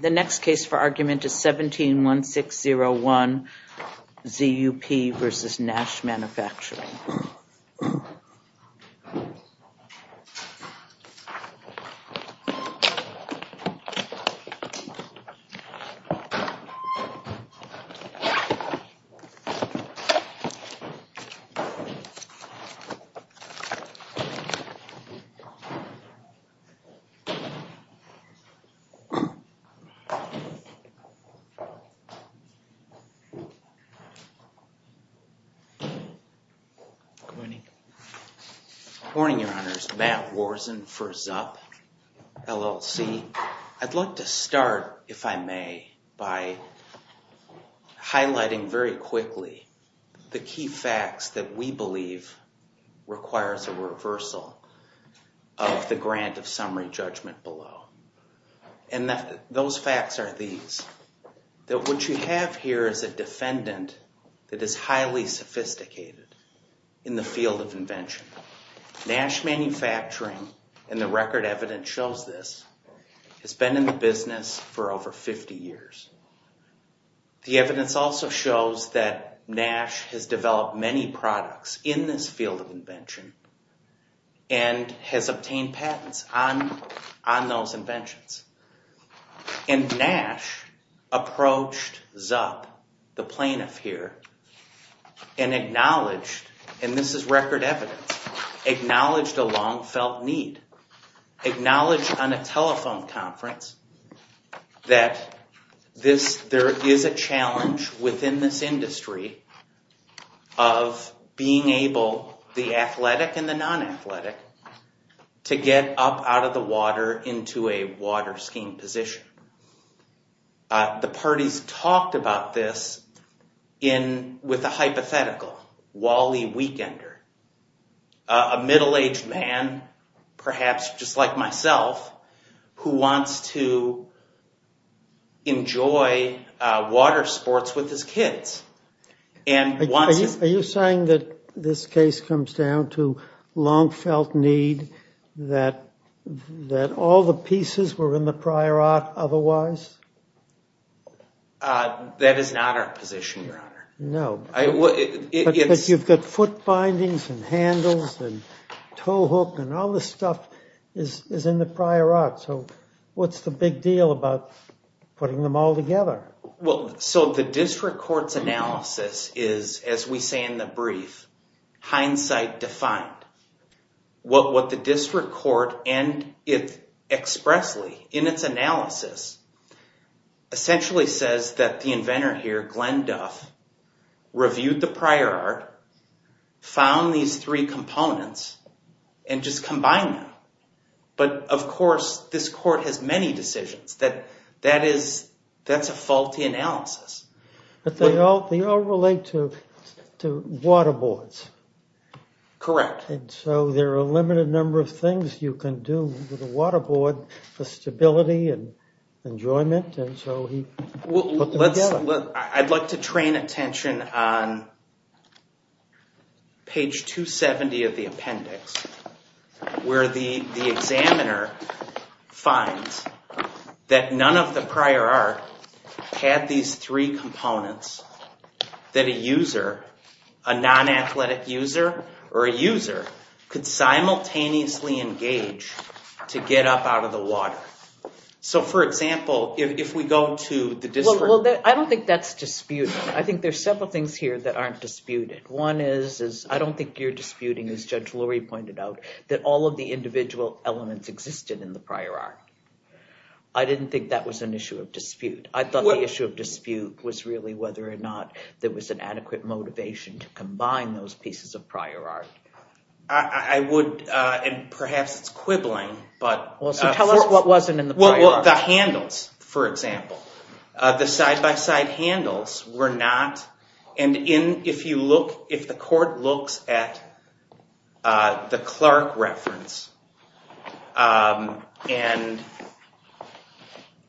The next case for argument is 171601 ZUP v. Nash Manufacturing, Inc. Good morning, Your Honors. Matt Worzen for ZUP, LLC. I'd like to start, if I may, by highlighting very quickly the key facts that we believe requires a reversal of the grant of summary judgment below. And those facts are these, that what you have here is a defendant that is highly sophisticated in the field of invention. Nash Manufacturing, and the record evidence shows this, has been in the business for over 50 years. The evidence also shows that Nash has developed many products in this field of invention and has obtained patents on those inventions. And Nash approached ZUP, the plaintiff here, and acknowledged, and this is record evidence, acknowledged a long felt need, acknowledged on a telephone conference that there is a challenge within this industry of being able, the athletic and the non-athletic, to get up out of the water into a water skiing position. The parties talked about this with a hypothetical, Wally Weekender, a middle-aged man, perhaps just like myself, who wants to enjoy water sports with his kids. Are you saying that this case comes down to long felt need, that all the pieces were in the prior art otherwise? That is not our position, your honor. No. But you've got foot bindings and handles and toe hook and all this stuff is in the prior art, so what's the big deal about putting them all together? So the district court's analysis is, as we say in the brief, hindsight defined. What the district court and it expressly, in its analysis, essentially says that the inventor here, Glenn Duff, reviewed the prior art, found these three components, and just combined them. But of course, this court has many decisions, that that is, that's a faulty analysis. But they all relate to water boards. Correct. And so there are a limited number of things you can do with a water board for stability and enjoyment, and so he put them together. I'd like to train attention on page 270 of the appendix, where the examiner finds that one of the prior art had these three components that a user, a non-athletic user, or a user could simultaneously engage to get up out of the water. So for example, if we go to the district... I don't think that's disputed. I think there's several things here that aren't disputed. One is, I don't think you're disputing, as Judge Lurie pointed out, that all of the individual elements existed in the prior art. I didn't think that was an issue of dispute. I thought the issue of dispute was really whether or not there was an adequate motivation to combine those pieces of prior art. I would, and perhaps it's quibbling, but... So tell us what wasn't in the prior art. Well, the handles, for example. The side-by-side handles were not, and if you look, if the court looks at the Clark reference, and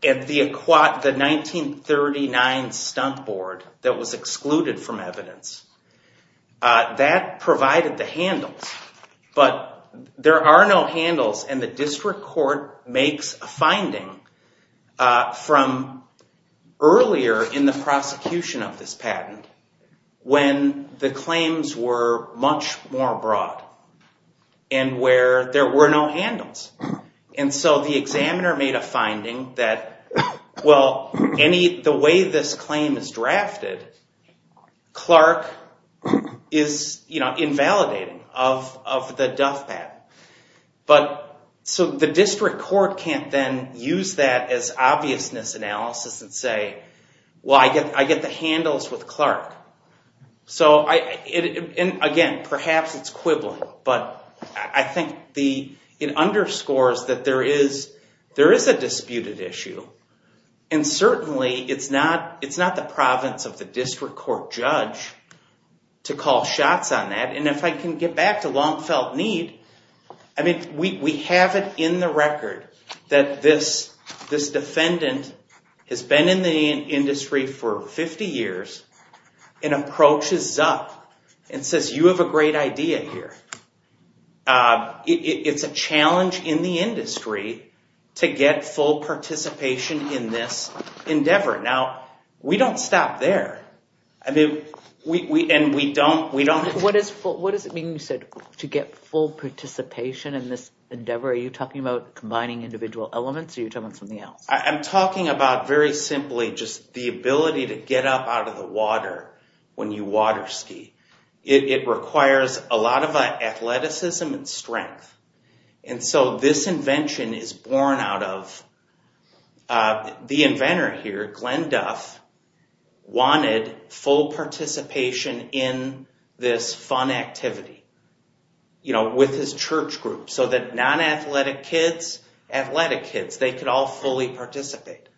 the 1939 stunt board that was excluded from evidence, that provided the handles. But there are no handles, and the district court makes a finding from earlier in the where there were no handles. And so the examiner made a finding that, well, the way this claim is drafted, Clark is invalidating of the duff pad. So the district court can't then use that as obviousness analysis and say, well, I get the handles with Clark. So, again, perhaps it's quibbling, but I think it underscores that there is a disputed issue, and certainly it's not the province of the district court judge to call shots on that. And if I can get back to long felt need, I mean, we have it in the record that this defendant has been in the industry for 50 years and approaches Zuck and says, you have a great idea here. It's a challenge in the industry to get full participation in this endeavor. Now, we don't stop there, and we don't- What does it mean, you said, to get full participation in this endeavor? Are you talking about combining individual elements, or are you talking about something else? I'm talking about, very simply, just the ability to get up out of the water when you water ski. It requires a lot of athleticism and strength. And so this invention is born out of the inventor here, Glenn Duff, wanted full participation in this fun activity with his church group, so that non-athletic kids, athletic kids, they could all fully participate.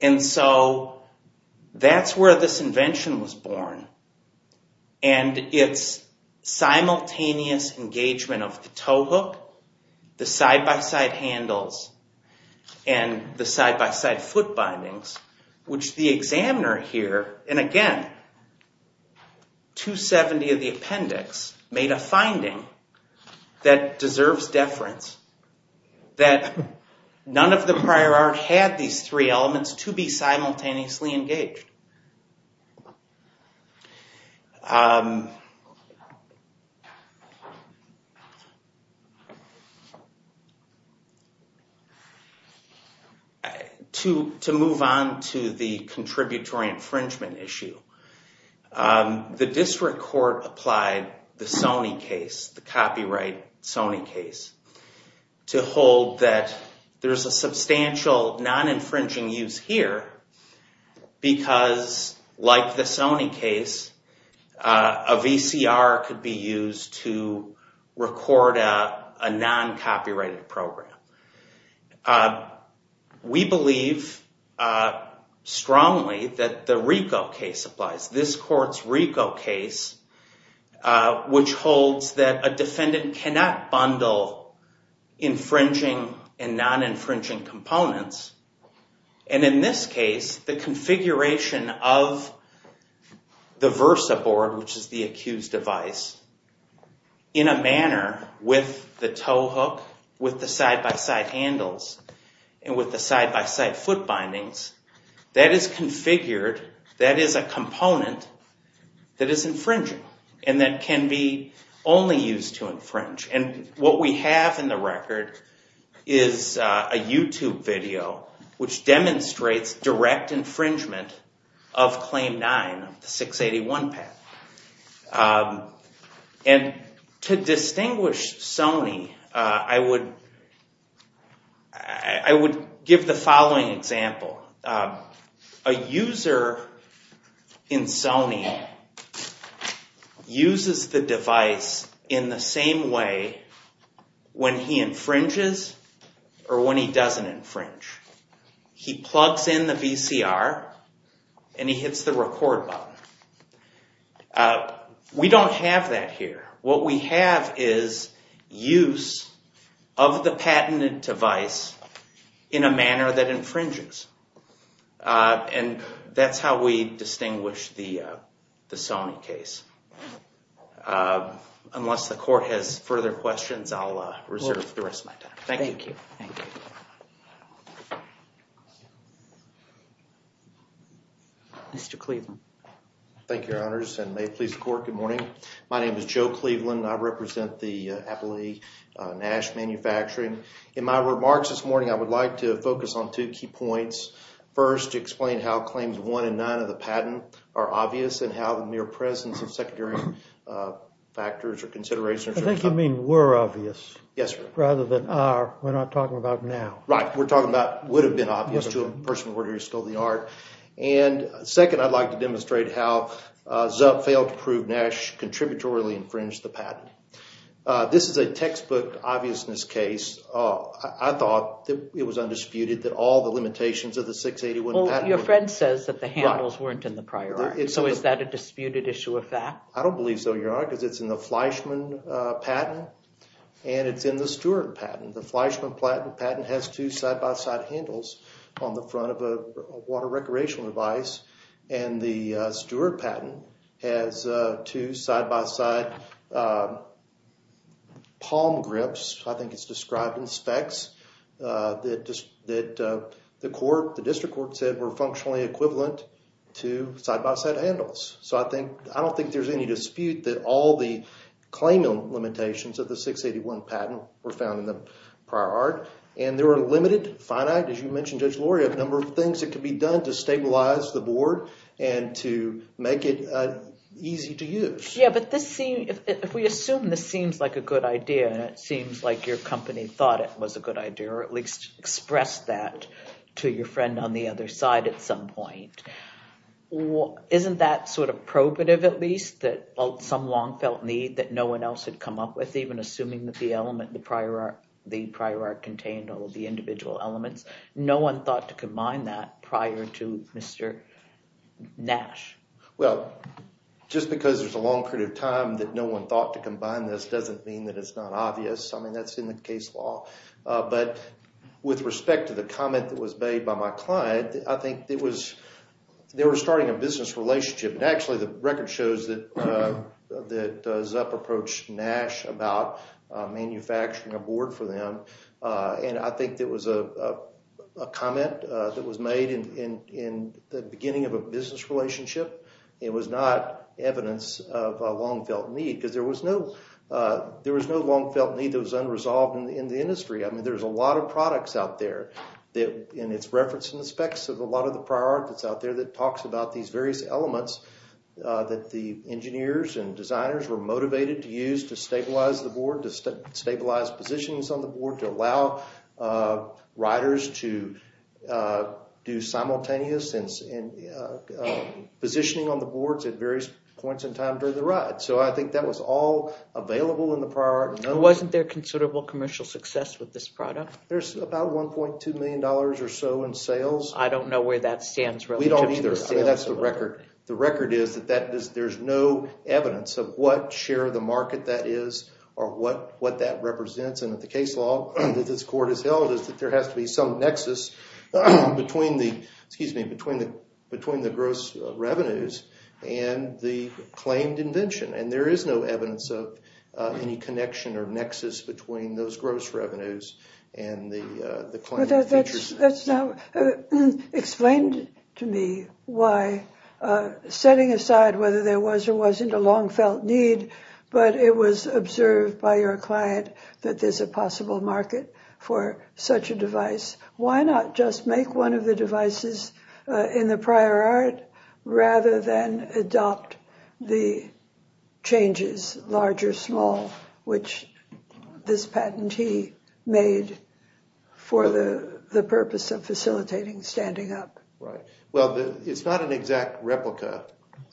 And so that's where this invention was born. And it's simultaneous engagement of the tow hook, the side-by-side handles, and the side-by-side foot bindings, which the examiner here, and again, 270 of the appendix made a finding that deserves deference, that none of the prior art had these three elements to be simultaneously engaged. To move on to the contributory infringement issue, the district court applied the Sony case, the copyright Sony case, to hold that there's a substantial non-infringing use here because, like the Sony case, a VCR could be used to record a non-copyrighted program. We believe strongly that the RICO case applies. This court's RICO case, which holds that a defendant cannot bundle infringing and non-infringing components, and in this case, the configuration of the VersaBoard, which is the accused device, in a manner with the tow hook, with the side-by-side handles, and with the side-by-side foot bindings, that is configured, that is a component that is infringing and that can be only used to infringe. And what we have in the record is a YouTube video which demonstrates direct infringement of Claim 9, the 681 path. And to distinguish Sony, I would give the following example. A user in Sony uses the device in the same way when he infringes or when he doesn't infringe. He plugs in the VCR and he hits the record button. We don't have that here. What we have is use of the patented device in a manner that infringes. And that's how we distinguish the Sony case. Unless the court has further questions, I'll reserve the rest of my time. Thank you. Thank you. Thank you. Mr. Cleveland. Thank you, Your Honors, and may it please the Court, good morning. My name is Joe Cleveland. I represent the Appley Nash Manufacturing. In my remarks this morning, I would like to focus on two key points. First, to explain how Claims 1 and 9 of the patent are obvious and how the mere presence of secondary factors or considerations are not. I think you mean were obvious. Yes, sir. Were obvious rather than are. We're not talking about now. Right. We're talking about would have been obvious to a person who stole the art. And second, I'd like to demonstrate how Zupp failed to prove Nash contributorily infringed the patent. This is a textbook obviousness case. I thought it was undisputed that all the limitations of the 681 patent were there. Your friend says that the handles weren't in the prior art, so is that a disputed issue of fact? I don't believe so, Your Honor, because it's in the Fleischman patent and it's in the Stewart patent. The Fleischman patent has two side-by-side handles on the front of a water recreational device and the Stewart patent has two side-by-side palm grips. I think it's described in specs that the court, the district court said were functionally equivalent to side-by-side handles. So I don't think there's any dispute that all the claimant limitations of the 681 patent were found in the prior art. And there were limited, finite, as you mentioned, Judge Lori, a number of things that could be done to stabilize the board and to make it easy to use. Yeah, but if we assume this seems like a good idea and it seems like your company thought it was a good idea or at least expressed that to your friend on the other side at some point, isn't that sort of probative at least that some long-felt need that no one else had come up with, even assuming that the element, the prior art contained all of the individual elements. No one thought to combine that prior to Mr. Nash. Well, just because there's a long period of time that no one thought to combine this doesn't mean that it's not obvious. I mean, that's in the case law. But with respect to the comment that was made by my client, I think it was, they were starting a business relationship. And actually, the record shows that Zupp approached Nash about manufacturing a board for them. And I think there was a comment that was made in the beginning of a business relationship. It was not evidence of a long-felt need because there was no long-felt need that was unresolved in the industry. I mean, there's a lot of products out there and it's referenced in the specs of a lot of the prior art that's out there that talks about these various elements that the engineers and designers were motivated to use to stabilize the board, to stabilize positions on the board, to allow riders to do simultaneous positioning on the boards at various points in time during the ride. So I think that was all available in the prior art. Wasn't there considerable commercial success with this product? There's about $1.2 million or so in sales. I don't know where that stands relative to the sales. We don't either. I mean, that's the record. The record is that there's no evidence of what share of the market that is or what that represents. And the case law that this court has held is that there has to be some nexus between the gross revenues and the claimed invention. And there is no evidence of any connection or nexus between those gross revenues and the claimed features. That's now explained to me why, setting aside whether there was or wasn't a long-felt need, but it was observed by your client that there's a possible market for such a device, why not just make one of the devices in the prior art rather than adopt the changes, large or small, for the purpose of facilitating standing up? Right. Well, it's not an exact replica.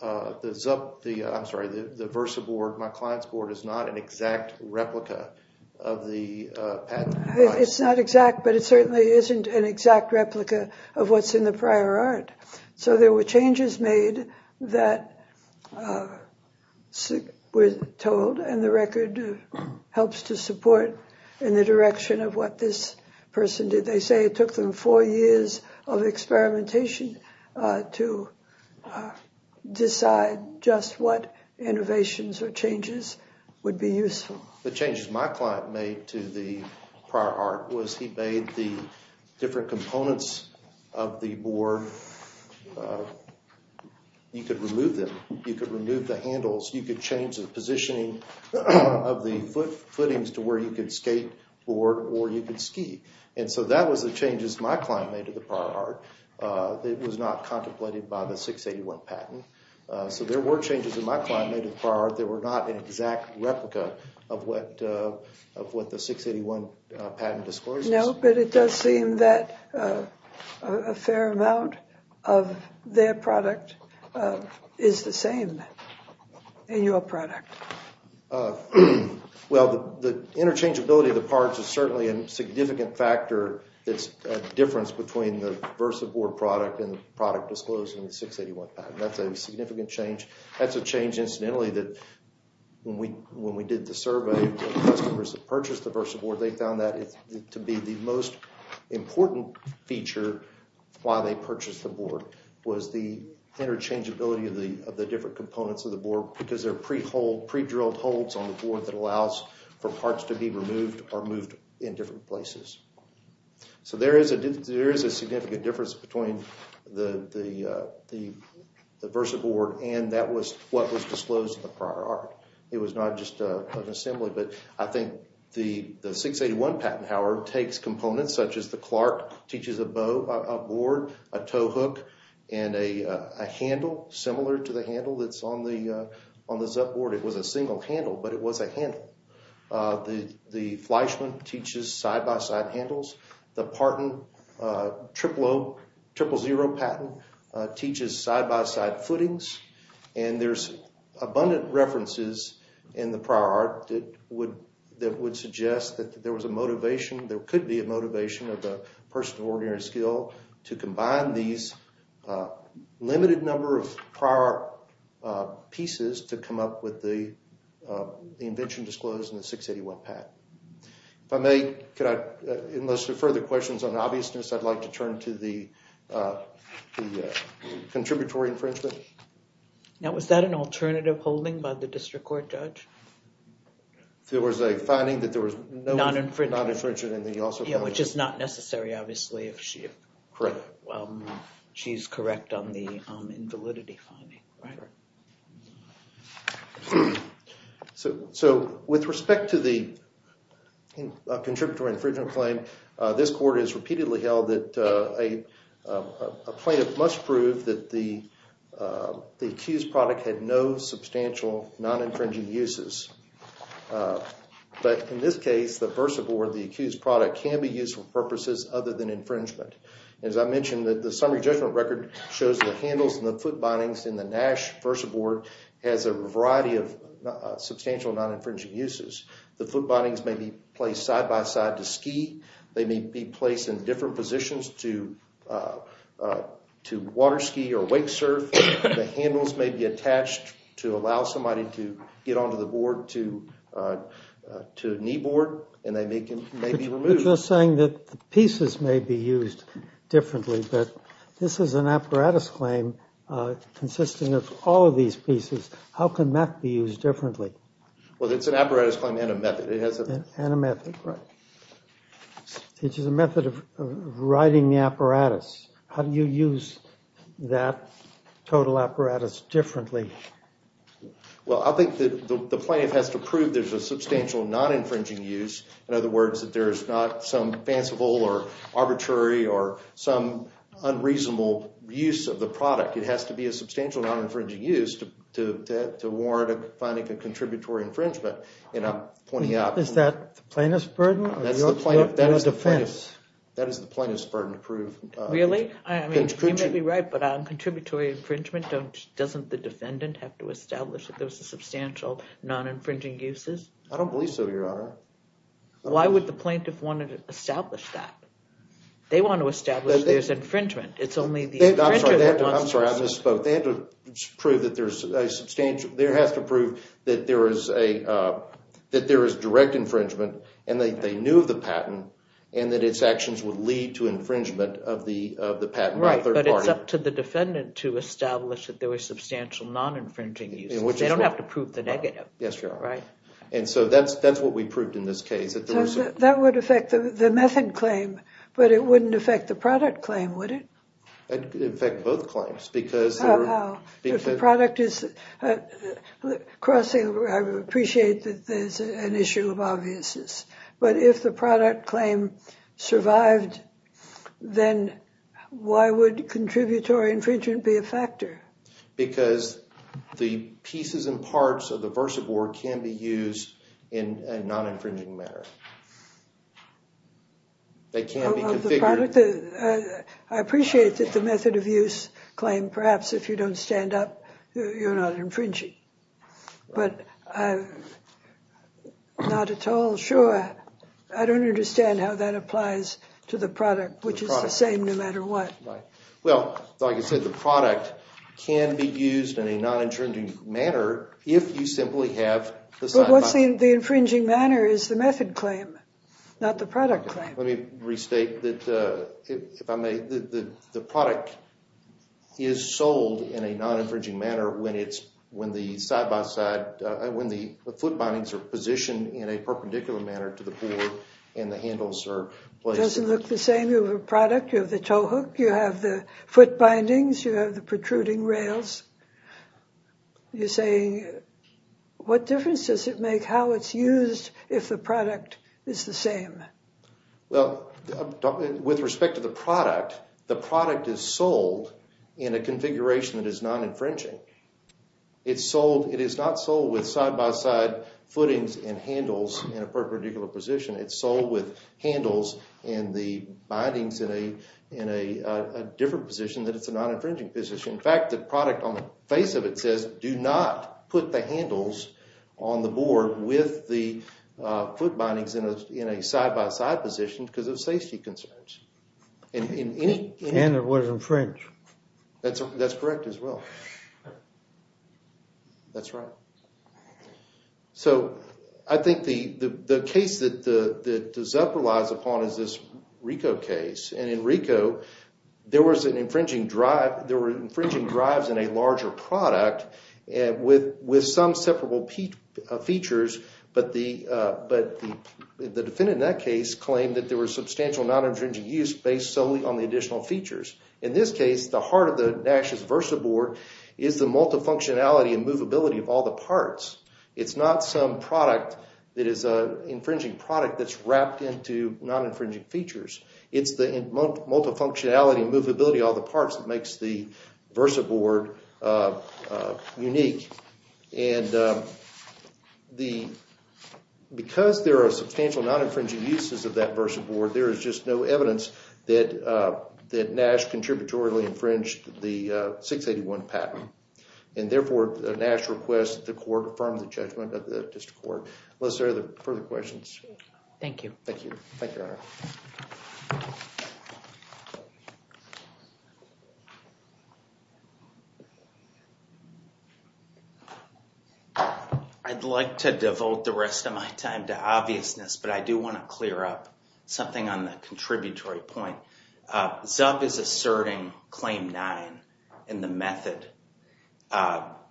I'm sorry, the Versa board, my client's board, is not an exact replica of the patent. It's not exact, but it certainly isn't an exact replica of what's in the prior art. So there were changes made that were told, and the record helps to support in the direction of what this person did. They say it took them four years of experimentation to decide just what innovations or changes would be useful. The changes my client made to the prior art was he made the different components of the board. You could remove them. You could remove the handles. You could change the positioning of the footings to where you could skate or you could ski. And so that was the changes my client made to the prior art. It was not contemplated by the 681 patent. So there were changes in my client made to the prior art that were not an exact replica of what the 681 patent discloses. No, but it does seem that a fair amount of their product is the same in your product. Well, the interchangeability of the parts is certainly a significant factor that's a difference between the VersaBoard product and the product disclosed in the 681 patent. That's a significant change. That's a change incidentally that when we did the survey of the customers that purchased the VersaBoard, they found that to be the most important feature while they purchased the board was the interchangeability of the different components of the board because these are pre-drilled holds on the board that allows for parts to be removed or moved in different places. So there is a significant difference between the VersaBoard and that was what was disclosed in the prior art. It was not just an assembly, but I think the 681 patent, however, takes components such as the Clark, teaches a bow, a board, a tow hook, and a handle similar to the handle that's on the Zup board. It was a single handle, but it was a handle. The Fleischmann teaches side-by-side handles. The Parton 000 patent teaches side-by-side footings, and there's abundant references in the prior art that would suggest that there was a motivation, there could be a motivation of the person of ordinary skill to combine these limited number of prior pieces to come up with the invention disclosed in the 681 patent. If I may, could I, unless there are further questions on obviousness, I'd like to turn to the contributory infringement. Now, was that an alternative holding by the district court judge? There was a finding that there was no non-infringement, and then you also found that. Which is not necessary, obviously, if she's correct on the invalidity finding. So with respect to the contributory infringement claim, this court has repeatedly held that a plaintiff must prove that the accused product had no substantial non-infringing uses. But in this case, the VersaBoard, the accused product, can be used for purposes other than infringement. As I mentioned, the summary judgment record shows the handles and the foot bindings in the Nash VersaBoard has a variety of substantial non-infringing uses. The foot bindings may be placed side-by-side to ski. They may be placed in different positions to water ski or wake surf. The handles may be attached to allow somebody to get onto the board, to knee board, and they may be removed. But you're saying that the pieces may be used differently, but this is an apparatus claim consisting of all of these pieces. How can that be used differently? Well, it's an apparatus claim and a method. And a method, right. It's just a method of writing the apparatus. How do you use that total apparatus differently? Well, I think that the plaintiff has to prove there's a substantial non-infringing use. In other words, that there's not some fanciful or arbitrary or some unreasonable use of the product. It has to be a substantial non-infringing use to warrant a finding of contributory infringement. Is that the plaintiff's burden or your defense? That is the plaintiff's burden to prove. Really? I mean, you may be right, but on contributory infringement, doesn't the defendant have to establish that there's a substantial non-infringing uses? I don't believe so, Your Honor. Why would the plaintiff want to establish that? They want to establish that there's infringement. It's only the infringer that... I'm sorry. I misspoke. They have to prove that there's a substantial... They have to prove that there is direct infringement and that they knew of the patent and that its actions would lead to infringement of the patent by a third party. Right. But it's up to the defendant to establish that there was substantial non-infringing uses. They don't have to prove the negative. Yes, Your Honor. Right. And so that's what we proved in this case. That would affect the method claim, but it wouldn't affect the product claim, would it? It would affect both claims because... How? If the product is crossing, I would appreciate that there's an issue of obviousness. But if the product claim survived, then why would contributory infringement be a factor? Because the pieces and parts of the VersaBoard can be used in a non-infringing manner. They can be configured... Of the product... I appreciate that the method of use claim, perhaps if you don't stand up, you're not infringing. But I'm not at all sure. I don't understand how that applies to the product, which is the same no matter what. Right. Well, like I said, the product can be used in a non-infringing manner if you simply have the side-by-side... But what's the infringing manner is the method claim, not the product claim. Let me restate that, if I may, the product is sold in a non-infringing manner when the side-by-side... When the foot bindings are positioned in a perpendicular manner to the board and the handles are placed... It doesn't look the same. You have a product, you have the toe hook, you have the foot bindings, you have the protruding rails. You're saying, what difference does it make how it's used if the product is the same? Well, with respect to the product, the product is sold in a configuration that is non-infringing. It's sold... It is not sold with side-by-side footings and handles in a perpendicular position. It's sold with handles and the bindings in a different position that it's a non-infringing position. In fact, the product on the face of it says, do not put the handles on the board with the foot bindings in a side-by-side position because of safety concerns. And it was infringed. That's correct as well. That's right. So I think the case that the ZUP relies upon is this RICO case. And in RICO, there was an infringing drive... There were infringing drives in a larger product with some separable features, but the defendant in that case claimed that there was substantial non-infringing use based solely on the additional features. In this case, the heart of the Nash's VersaBoard is the multifunctionality and movability of all the parts. It's not some product that is an infringing product that's wrapped into non-infringing features. It's the multifunctionality and movability of all the parts that makes the VersaBoard unique. And because there are substantial non-infringing uses of that VersaBoard, there is just no Nash contributorily infringed the 681 patent. And therefore, Nash requests that the court affirm the judgment of the district court. Unless there are further questions. Thank you. Thank you. Thank you, Your Honor. I'd like to devote the rest of my time to obviousness, but I do want to clear up something on the contributory point. So, ZUP is asserting Claim 9 in the method.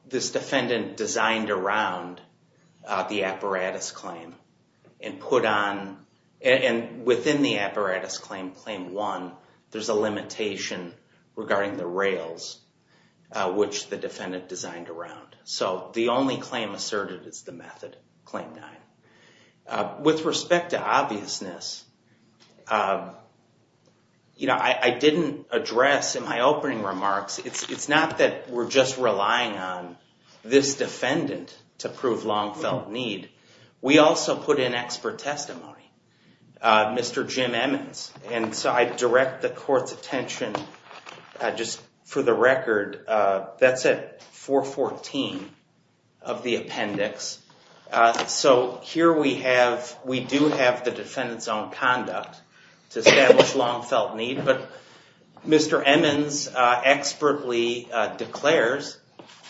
This defendant designed around the apparatus claim and put on, and within the apparatus claim, Claim 1, there's a limitation regarding the rails, which the defendant designed around. So, the only claim asserted is the method, Claim 9. With respect to obviousness, I didn't address in my opening remarks, it's not that we're just relying on this defendant to prove long-felt need. We also put in expert testimony, Mr. Jim Emmons, and so I direct the court's attention, just for the record, that's at 414 of the appendix. So, here we do have the defendant's own conduct to establish long-felt need, but Mr. Emmons expertly declares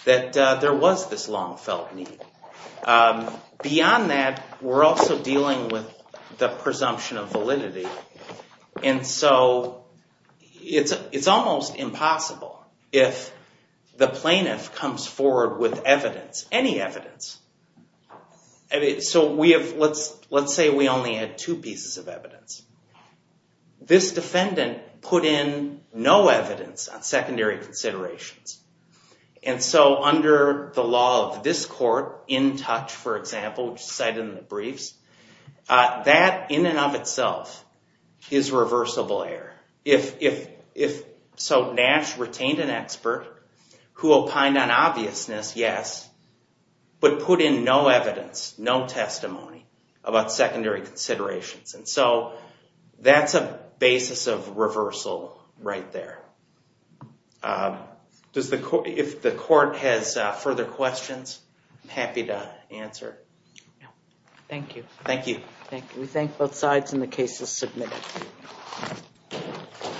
that there was this long-felt need. Beyond that, we're also dealing with the presumption of validity, and so it's almost impossible if the plaintiff comes forward with evidence, any evidence, so let's say we only had two pieces of evidence. This defendant put in no evidence on secondary considerations, and so under the law of this court, in touch, for example, which is cited in the briefs, that in and of itself is reversible error. So, Nash retained an expert who opined on obviousness, yes, but put in no evidence, no testimony about secondary considerations, and so that's a basis of reversal right there. If the court has further questions, I'm happy to answer. Thank you. Thank you. Thank you. We thank both sides, and the case is submitted.